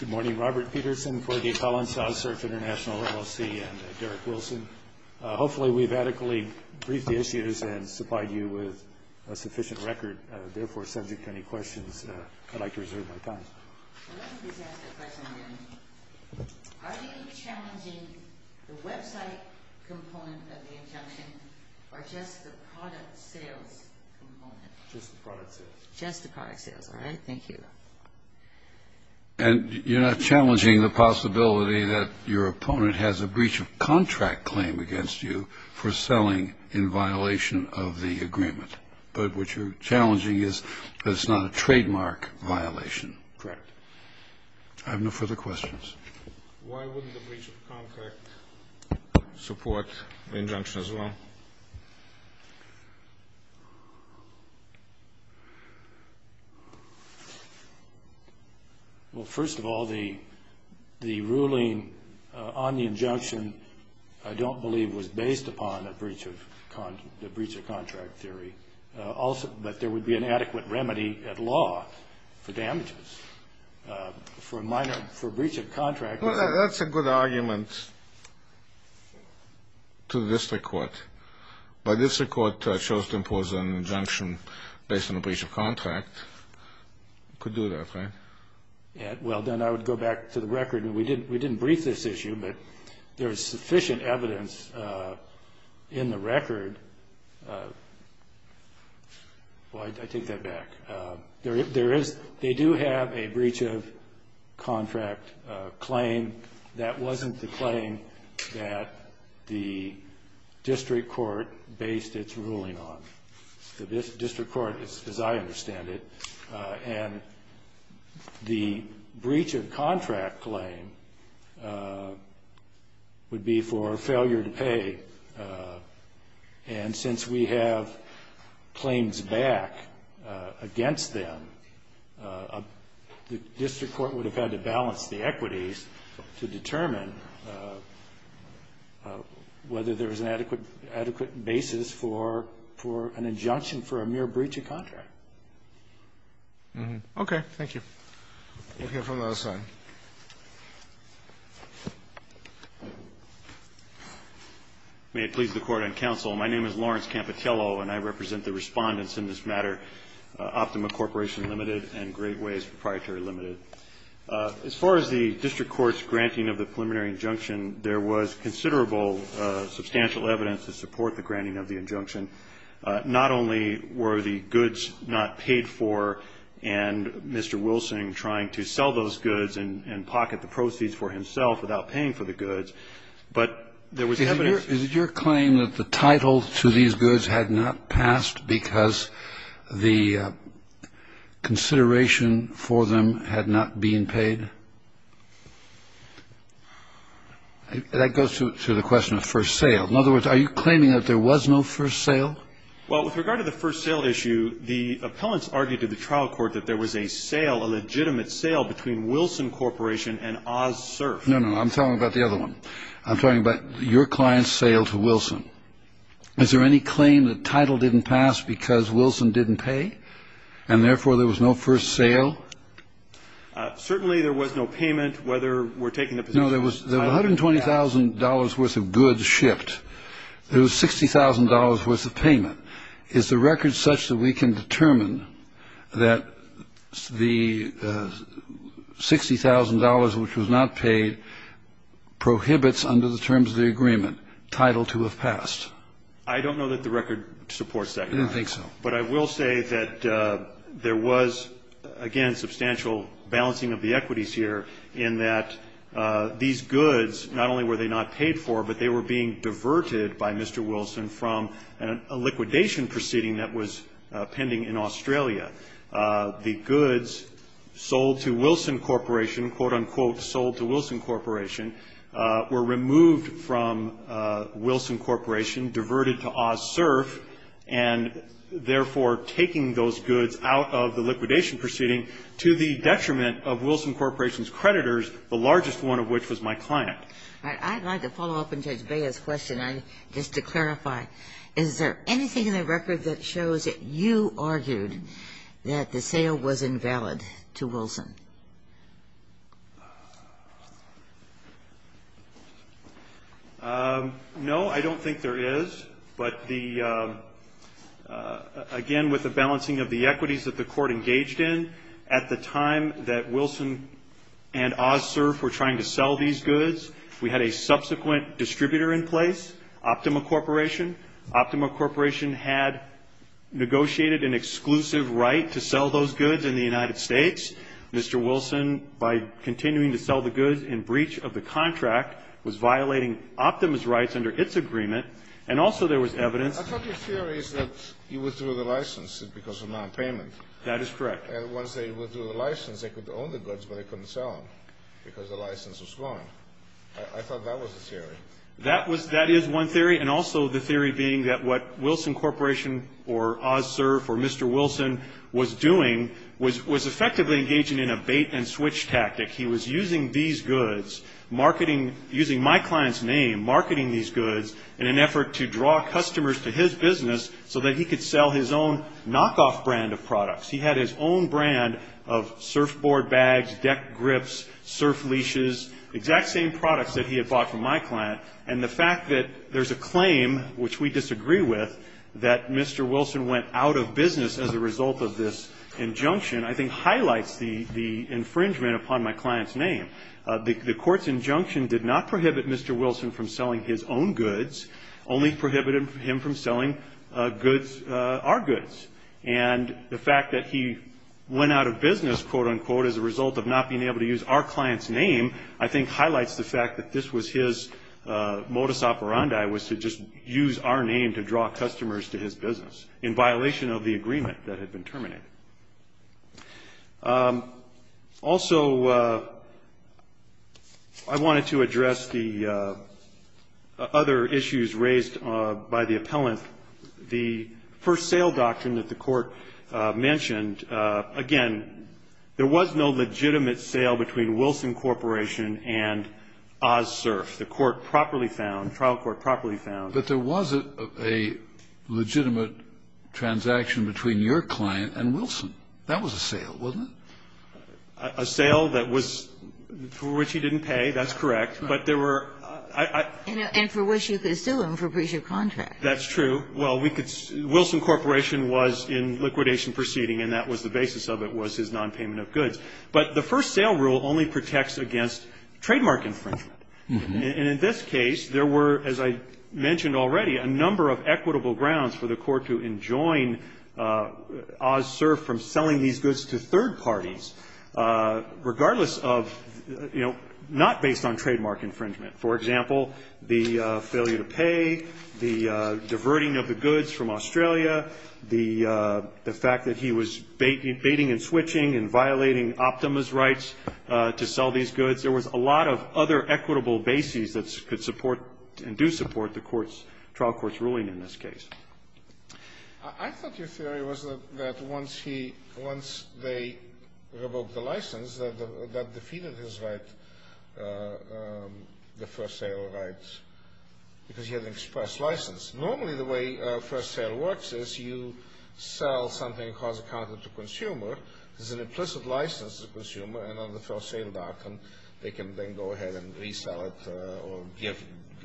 Good morning, Robert Peterson, Corday Collins, Oz-Surf Int'l LLC, and Derek Wilson. Hopefully, we've adequately briefed the issues and supplied you with a sufficient record. Therefore, subject to any questions, I'd like to reserve my time. I'd like to just ask a question again. Are you challenging the website component of the injunction or just the product sales component? Just the product sales. Just the product sales, all right? Thank you. And you're not challenging the possibility that your opponent has a breach of contract claim against you for selling in violation of the agreement. But what you're challenging is that it's not a trademark violation. Correct. I have no further questions. Why wouldn't the breach of contract support the injunction as well? Well, first of all, the ruling on the injunction I don't believe was based upon the breach of contract theory. But there would be an adequate remedy at law for damages. For breach of contract. Well, that's a good argument to the district court. But district court chose to impose an injunction based on a breach of contract. It could do that, right? Well, then I would go back to the record. We didn't brief this issue, but there is sufficient evidence in the record. Well, I take that back. They do have a breach of contract claim. That wasn't the claim that the district court based its ruling on. The district court, as I understand it, and the breach of contract claim would be for failure to pay. And since we have claims back against them, the district court would have had to balance the equities to determine whether there was an adequate basis for an injunction for a mere breach of contract. Okay. Thank you. We'll hear from the other side. May it please the Court and counsel, my name is Lawrence Campitello, and I represent the respondents in this matter, Optima Corporation Limited and Great Ways Proprietary Limited. As far as the district court's granting of the preliminary injunction, there was considerable substantial evidence to support the granting of the injunction. Not only were the goods not paid for and Mr. Wilson trying to sell those goods and pocket the proceeds for himself without paying for the goods, but there was evidence. Did your claim that the title to these goods had not passed because the consideration for them had not been paid? That goes to the question of first sale. In other words, are you claiming that there was no first sale? Well, with regard to the first sale issue, the appellants argued to the trial court that there was a sale, a legitimate sale, between Wilson Corporation and OzSurf. No, no. I'm talking about the other one. I'm talking about your client's sale to Wilson. Is there any claim that title didn't pass because Wilson didn't pay and, therefore, there was no first sale? No, there was $120,000 worth of goods shipped. There was $60,000 worth of payment. Is the record such that we can determine that the $60,000 which was not paid prohibits under the terms of the agreement title to have passed? I don't know that the record supports that. I didn't think so. But I will say that there was, again, substantial balancing of the equities here in that these goods, not only were they not paid for, but they were being diverted by Mr. Wilson from a liquidation proceeding that was pending in Australia. The goods sold to Wilson Corporation, quote, unquote, sold to Wilson Corporation were removed from Wilson Corporation, diverted to OzSurf, and, therefore, taking those goods out of the liquidation proceeding to the detriment of Wilson Corporation's creditors, the largest one of which was my client. All right. I'd like to follow up on Judge Bea's question, just to clarify. Is there anything in the record that shows that you argued that the sale was invalid to Wilson? No, I don't think there is. But the, again, with the balancing of the equities that the Court engaged in, at the time that Wilson and OzSurf were trying to sell these goods, we had a subsequent distributor in place, Optima Corporation. Optima Corporation had negotiated an exclusive right to sell those goods in the United States. Mr. Wilson, by continuing to sell the goods in breach of the contract, was violating Optima's rights under its agreement, and also there was evidence. I thought your theory is that you withdrew the license because of nonpayment. That is correct. And once they withdrew the license, they could own the goods, but they couldn't sell them because the license was gone. I thought that was the theory. That is one theory, and also the theory being that what Wilson Corporation or OzSurf or Mr. Wilson was doing was effectively engaging in a bait-and-switch tactic. He was using these goods, using my client's name, marketing these goods in an effort to draw customers to his business so that he could sell his own knockoff brand of products. He had his own brand of surfboard bags, deck grips, surf leashes, exact same products that he had bought from my client. And the fact that there's a claim, which we disagree with, that Mr. Wilson went out of business as a result of this injunction, I think highlights the infringement upon my client's name. The court's injunction did not prohibit Mr. Wilson from selling his own goods, only prohibited him from selling goods, our goods. And the fact that he went out of business, quote-unquote, as a result of not being able to use our client's name, I think highlights the fact that this was his modus operandi, was to just use our name to draw customers to his business, in violation of the agreement that had been terminated. Also, I wanted to address the other issues raised by the appellant. The first sale doctrine that the court mentioned, again, there was no legitimate sale between Wilson Corporation and OzSurf. The court properly found, trial court properly found. But there was a legitimate transaction between your client and Wilson. That was a sale, wasn't it? A sale that was for which he didn't pay. That's correct. But there were ---- And for which you could sue him for breach of contract. That's true. Well, we could ---- Wilson Corporation was in liquidation proceeding, and that was the basis of it, was his nonpayment of goods. But the first sale rule only protects against trademark infringement. And in this case, there were, as I mentioned already, a number of equitable grounds for the court to enjoin OzSurf from selling these goods to third parties, regardless of, you know, not based on trademark infringement. For example, the failure to pay, the diverting of the goods from Australia, the fact that he was baiting and switching and violating Optima's rights to sell these goods. There was a lot of other equitable bases that could support and do support the trial court's ruling in this case. I thought your theory was that once he ---- once they revoked the license, that defeated his right, the first sale rights, because he had an express license. Normally, the way first sale works is you sell something, cause a conflict to a consumer. There's an implicit license to the consumer, and on the first sale doctrine, they can then go ahead and resell it or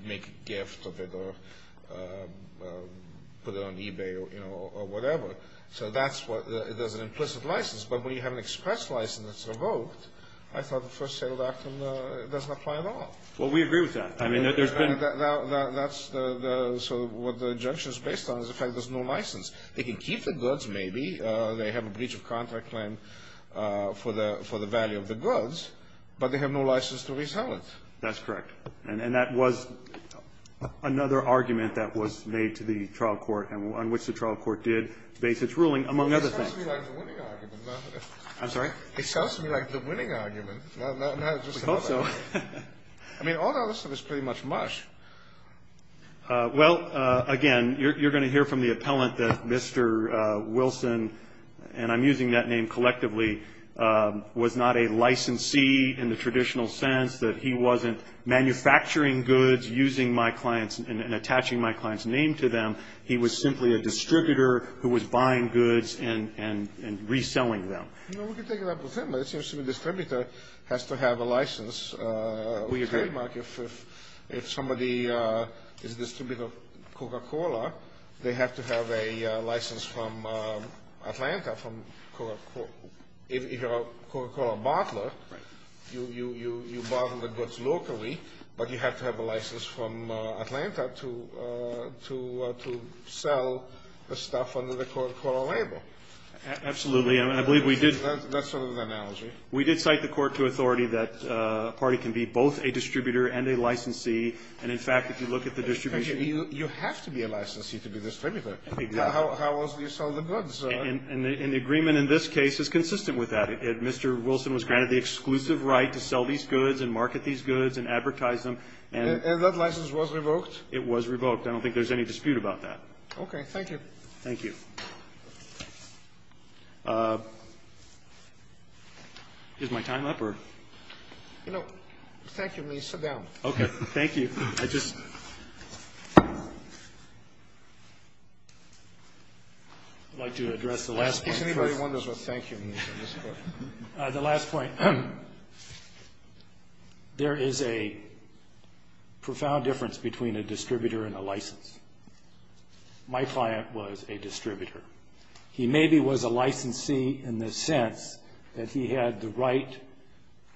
make a gift of it or put it on eBay or whatever. So that's what the ---- there's an implicit license. But when you have an express license that's revoked, I thought the first sale doctrine doesn't apply at all. Well, we agree with that. I mean, there's been ---- That's the ---- so what the injunction is based on is the fact there's no license. They can keep the goods, maybe. They have a breach of contract claim for the value of the goods, but they have no license to resell it. That's correct. And that was another argument that was made to the trial court on which the trial court did base its ruling, among other things. It sounds to me like the winning argument. I'm sorry? It sounds to me like the winning argument, not just the ---- We hope so. I mean, all the other stuff is pretty much mush. Well, again, you're going to hear from the appellant that Mr. Wilson, and I'm using that name collectively, was not a licensee in the traditional sense, that he wasn't manufacturing goods using my client's and attaching my client's name to them. He was simply a distributor who was buying goods and reselling them. No, we can take it up with him. It seems to me the distributor has to have a license. We agree. Mark, if somebody is a distributor of Coca-Cola, they have to have a license from Atlanta from Coca-Cola. If you're a Coca-Cola bottler, you bottle the goods locally, but you have to have a license from Atlanta to sell the stuff under the Coca-Cola label. Absolutely. I believe we did. That's sort of an analogy. We did cite the court to authority that a party can be both a distributor and a licensee, and, in fact, if you look at the distribution— You have to be a licensee to be a distributor. Exactly. How else do you sell the goods? And the agreement in this case is consistent with that. Mr. Wilson was granted the exclusive right to sell these goods and market these goods and advertise them. And that license was revoked? It was revoked. I don't think there's any dispute about that. Okay. Thank you. Thank you. Is my time up? No. Thank you. Please sit down. Okay. Thank you. I'd just like to address the last point. Isn't it very wonderful? Thank you. The last point. My client was a distributor. He maybe was a licensee in the sense that he had the right,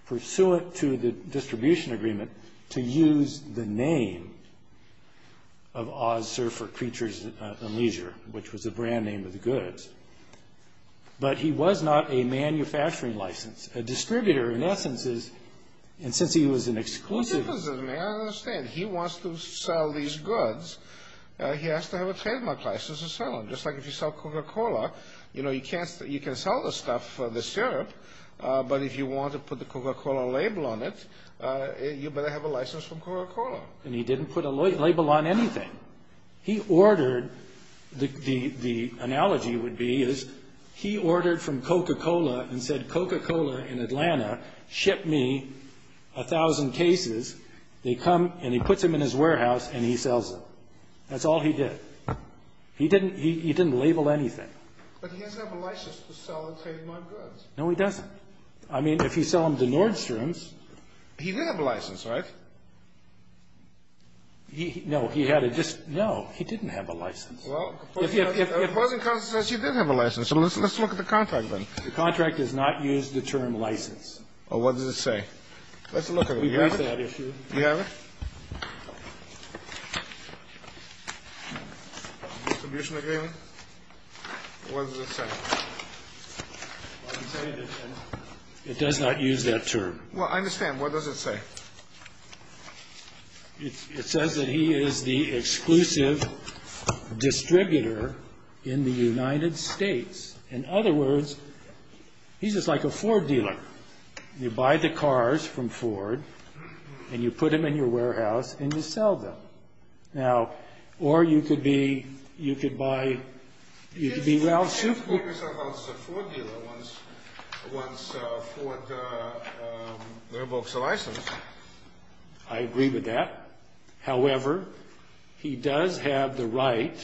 pursuant to the distribution agreement, to use the name of Oz Surfer Creatures and Leisure, which was the brand name of the goods. But he was not a manufacturing license. A distributor, in essence, is—and since he was an exclusive— He was an exclusive. I understand. He wants to sell these goods. He has to have a trademark license to sell them, just like if you sell Coca-Cola. You know, you can sell the stuff, the syrup, but if you want to put the Coca-Cola label on it, you better have a license from Coca-Cola. And he didn't put a label on anything. He ordered—the analogy would be is he ordered from Coca-Cola and said, Coca-Cola in Atlanta, ship me 1,000 cases. They come, and he puts them in his warehouse, and he sells them. That's all he did. He didn't—he didn't label anything. But he has to have a license to sell and trade my goods. No, he doesn't. I mean, if you sell them to Nordstrom's— He did have a license, right? No. He had a just—no. He didn't have a license. Well, if you have—if— If it wasn't constitutional, he did have a license. Let's look at the contract, then. The contract does not use the term license. Well, what does it say? Let's look at it. Do you have it? Do you have it? Distribution agreement? What does it say? It does not use that term. Well, I understand. What does it say? It says that he is the exclusive distributor in the United States. In other words, he's just like a Ford dealer. You buy the cars from Ford, and you put them in your warehouse, and you sell them. Now, or you could be—you could buy—you could be Ralph Soup— He was also a Ford dealer once. Once Ford reboxed a license. I agree with that. However, he does have the right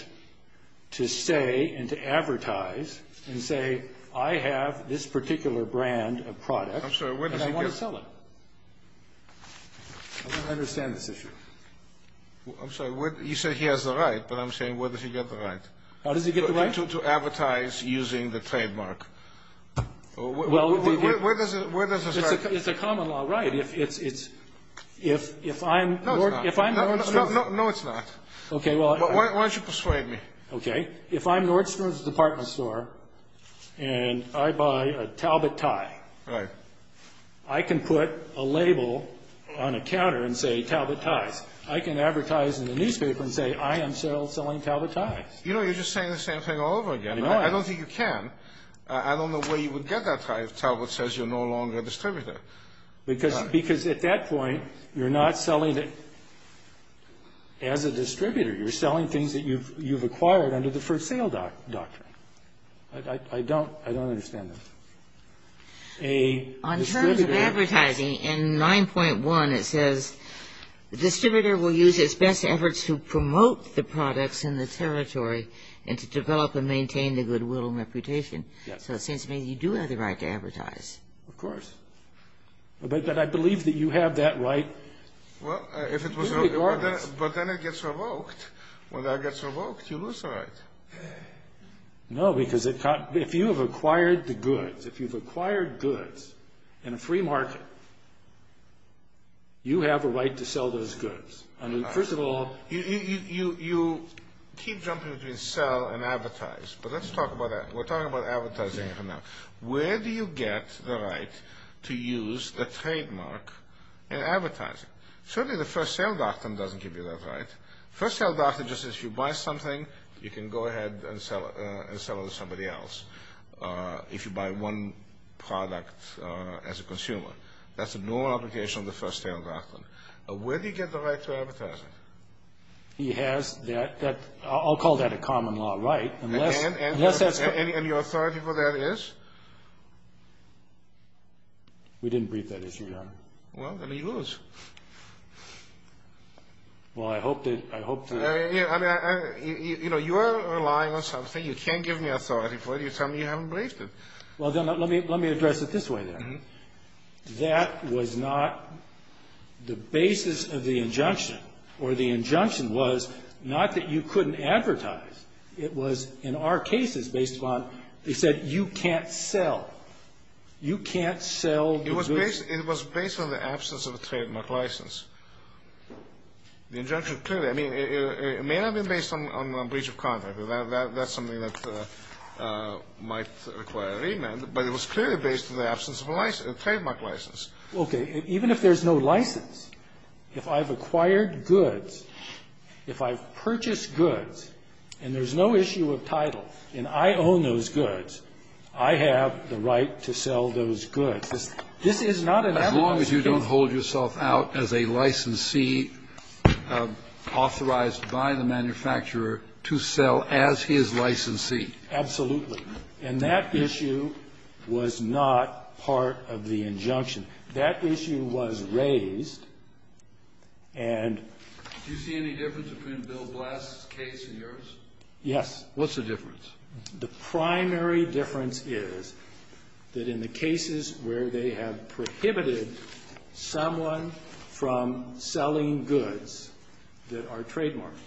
to say and to advertise and say, I have this particular brand of product, and I want to sell it. Where does he get— I don't understand this issue. I'm sorry. You said he has the right, but I'm saying where does he get the right? How does he get the right? To advertise using the trademark. Well, where does it start? It's a common law right. If I'm— No, it's not. No, it's not. Okay, well— Why don't you persuade me? Okay. If I'm Nordstrom's department store, and I buy a Talbot tie. Right. I can put a label on a counter and say, Talbot ties. I can advertise in the newspaper and say, I am selling Talbot ties. You know, you're just saying the same thing all over again. I don't think you can. I don't know where you would get that tie if Talbot says you're no longer a distributor. Because at that point, you're not selling it as a distributor. You're selling things that you've acquired under the for sale doctrine. I don't understand this. A distributor— On terms of advertising, in 9.1, it says, the distributor will use its best efforts to promote the products in the territory and to develop and maintain the goodwill and reputation. Yes. So it seems to me you do have the right to advertise. Of course. But I believe that you have that right. But then it gets revoked. When that gets revoked, you lose the right. No, because if you have acquired the goods, if you've acquired goods in a free market, you have a right to sell those goods. First of all— You keep jumping between sell and advertise. But let's talk about that. We're talking about advertising for now. Where do you get the right to use the trademark in advertising? Certainly the for sale doctrine doesn't give you that right. The for sale doctrine just says, if you buy something, you can go ahead and sell it to somebody else, if you buy one product as a consumer. That's a normal application of the for sale doctrine. Where do you get the right to advertise it? He has that—I'll call that a common law right. And your authority for that is? We didn't brief that issue, Your Honor. Well, then he goes. Well, I hope that— You know, you are relying on something you can't give me authority for, and you tell me you haven't briefed it. Well, let me address it this way, then. That was not the basis of the injunction, or the injunction was not that you couldn't advertise. It was, in our cases, based upon—they said you can't sell. You can't sell the goods. It was based on the absence of a trademark license. The injunction clearly—I mean, it may not have been based on breach of contract. That's something that might require a remand, but it was clearly based on the absence of a trademark license. Okay. Even if there's no license, if I've acquired goods, if I've purchased goods and there's no issue of title and I own those goods, I have the right to sell those goods. This is not an evidence-based— As long as you don't hold yourself out as a licensee authorized by the manufacturer to sell as his licensee. Absolutely. And that issue was not part of the injunction. That issue was raised and— Do you see any difference between Bill Blass' case and yours? Yes. What's the difference? The primary difference is that in the cases where they have prohibited someone from selling goods that are trademarked,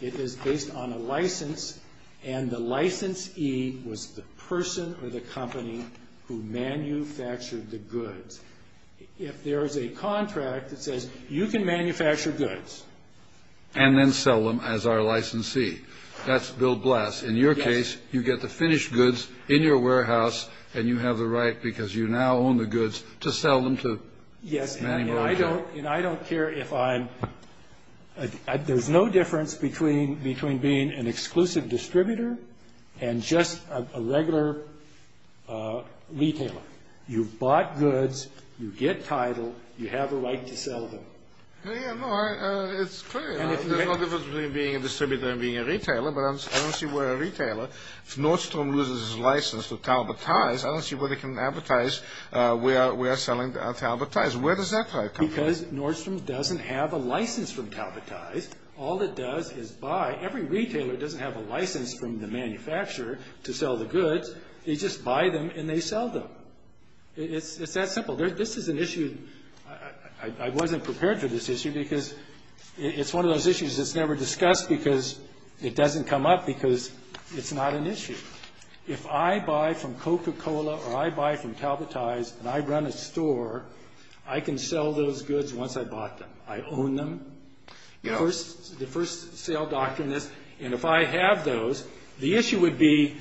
it is based on a license, and the licensee was the person or the company who manufactured the goods. If there is a contract that says you can manufacture goods— And then sell them as our licensee. That's Bill Blass. Yes. In your case, you get the finished goods in your warehouse, and you have the right because you now own the goods to sell them to— Yes. And I don't care if I'm—there's no difference between being an exclusive distributor and just a regular retailer. You've bought goods. You get title. You have a right to sell them. Yes. No, it's clear. There's no difference between being a distributor and being a retailer, but I don't see where a retailer— If Nordstrom loses his license to Talbot Ties, I don't see where they can advertise we are selling Talbot Ties. Where does that come from? Because Nordstrom doesn't have a license from Talbot Ties. All it does is buy— Every retailer doesn't have a license from the manufacturer to sell the goods. They just buy them and they sell them. It's that simple. This is an issue. I wasn't prepared for this issue because it's one of those issues that's never discussed because it doesn't come up because it's not an issue. If I buy from Coca-Cola or I buy from Talbot Ties and I run a store, I can sell those goods once I've bought them. I own them. The first sale doctrine is, and if I have those, the issue would be,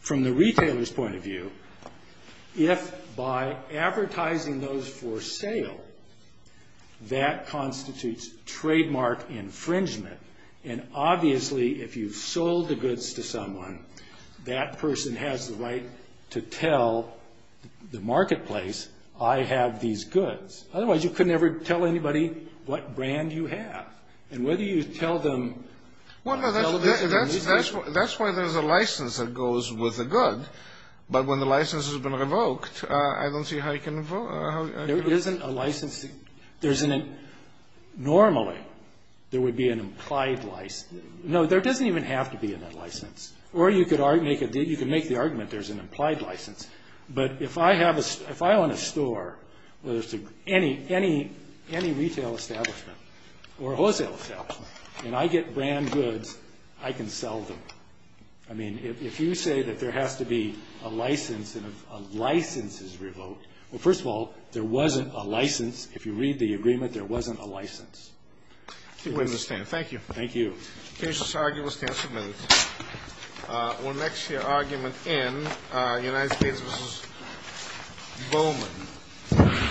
from the retailer's point of view, if by advertising those for sale, that constitutes trademark infringement. And obviously, if you've sold the goods to someone, that person has the right to tell the marketplace, I have these goods. Otherwise, you could never tell anybody what brand you have. And whether you tell them— Well, no. That's why there's a license that goes with a good. But when the license has been revoked, I don't see how you can— There isn't a license. There isn't a—normally, there would be an implied license. No, there doesn't even have to be a license. Or you could make the argument there's an implied license. But if I own a store, whether it's any retail establishment or wholesale establishment, and I get brand goods, I can sell them. I mean, if you say that there has to be a license and a license is revoked, well, first of all, there wasn't a license. If you read the agreement, there wasn't a license. I think we understand. Thank you. Thank you. The case's argument stands submitted. We'll next hear argument N, United States v. Bowman. Thank you.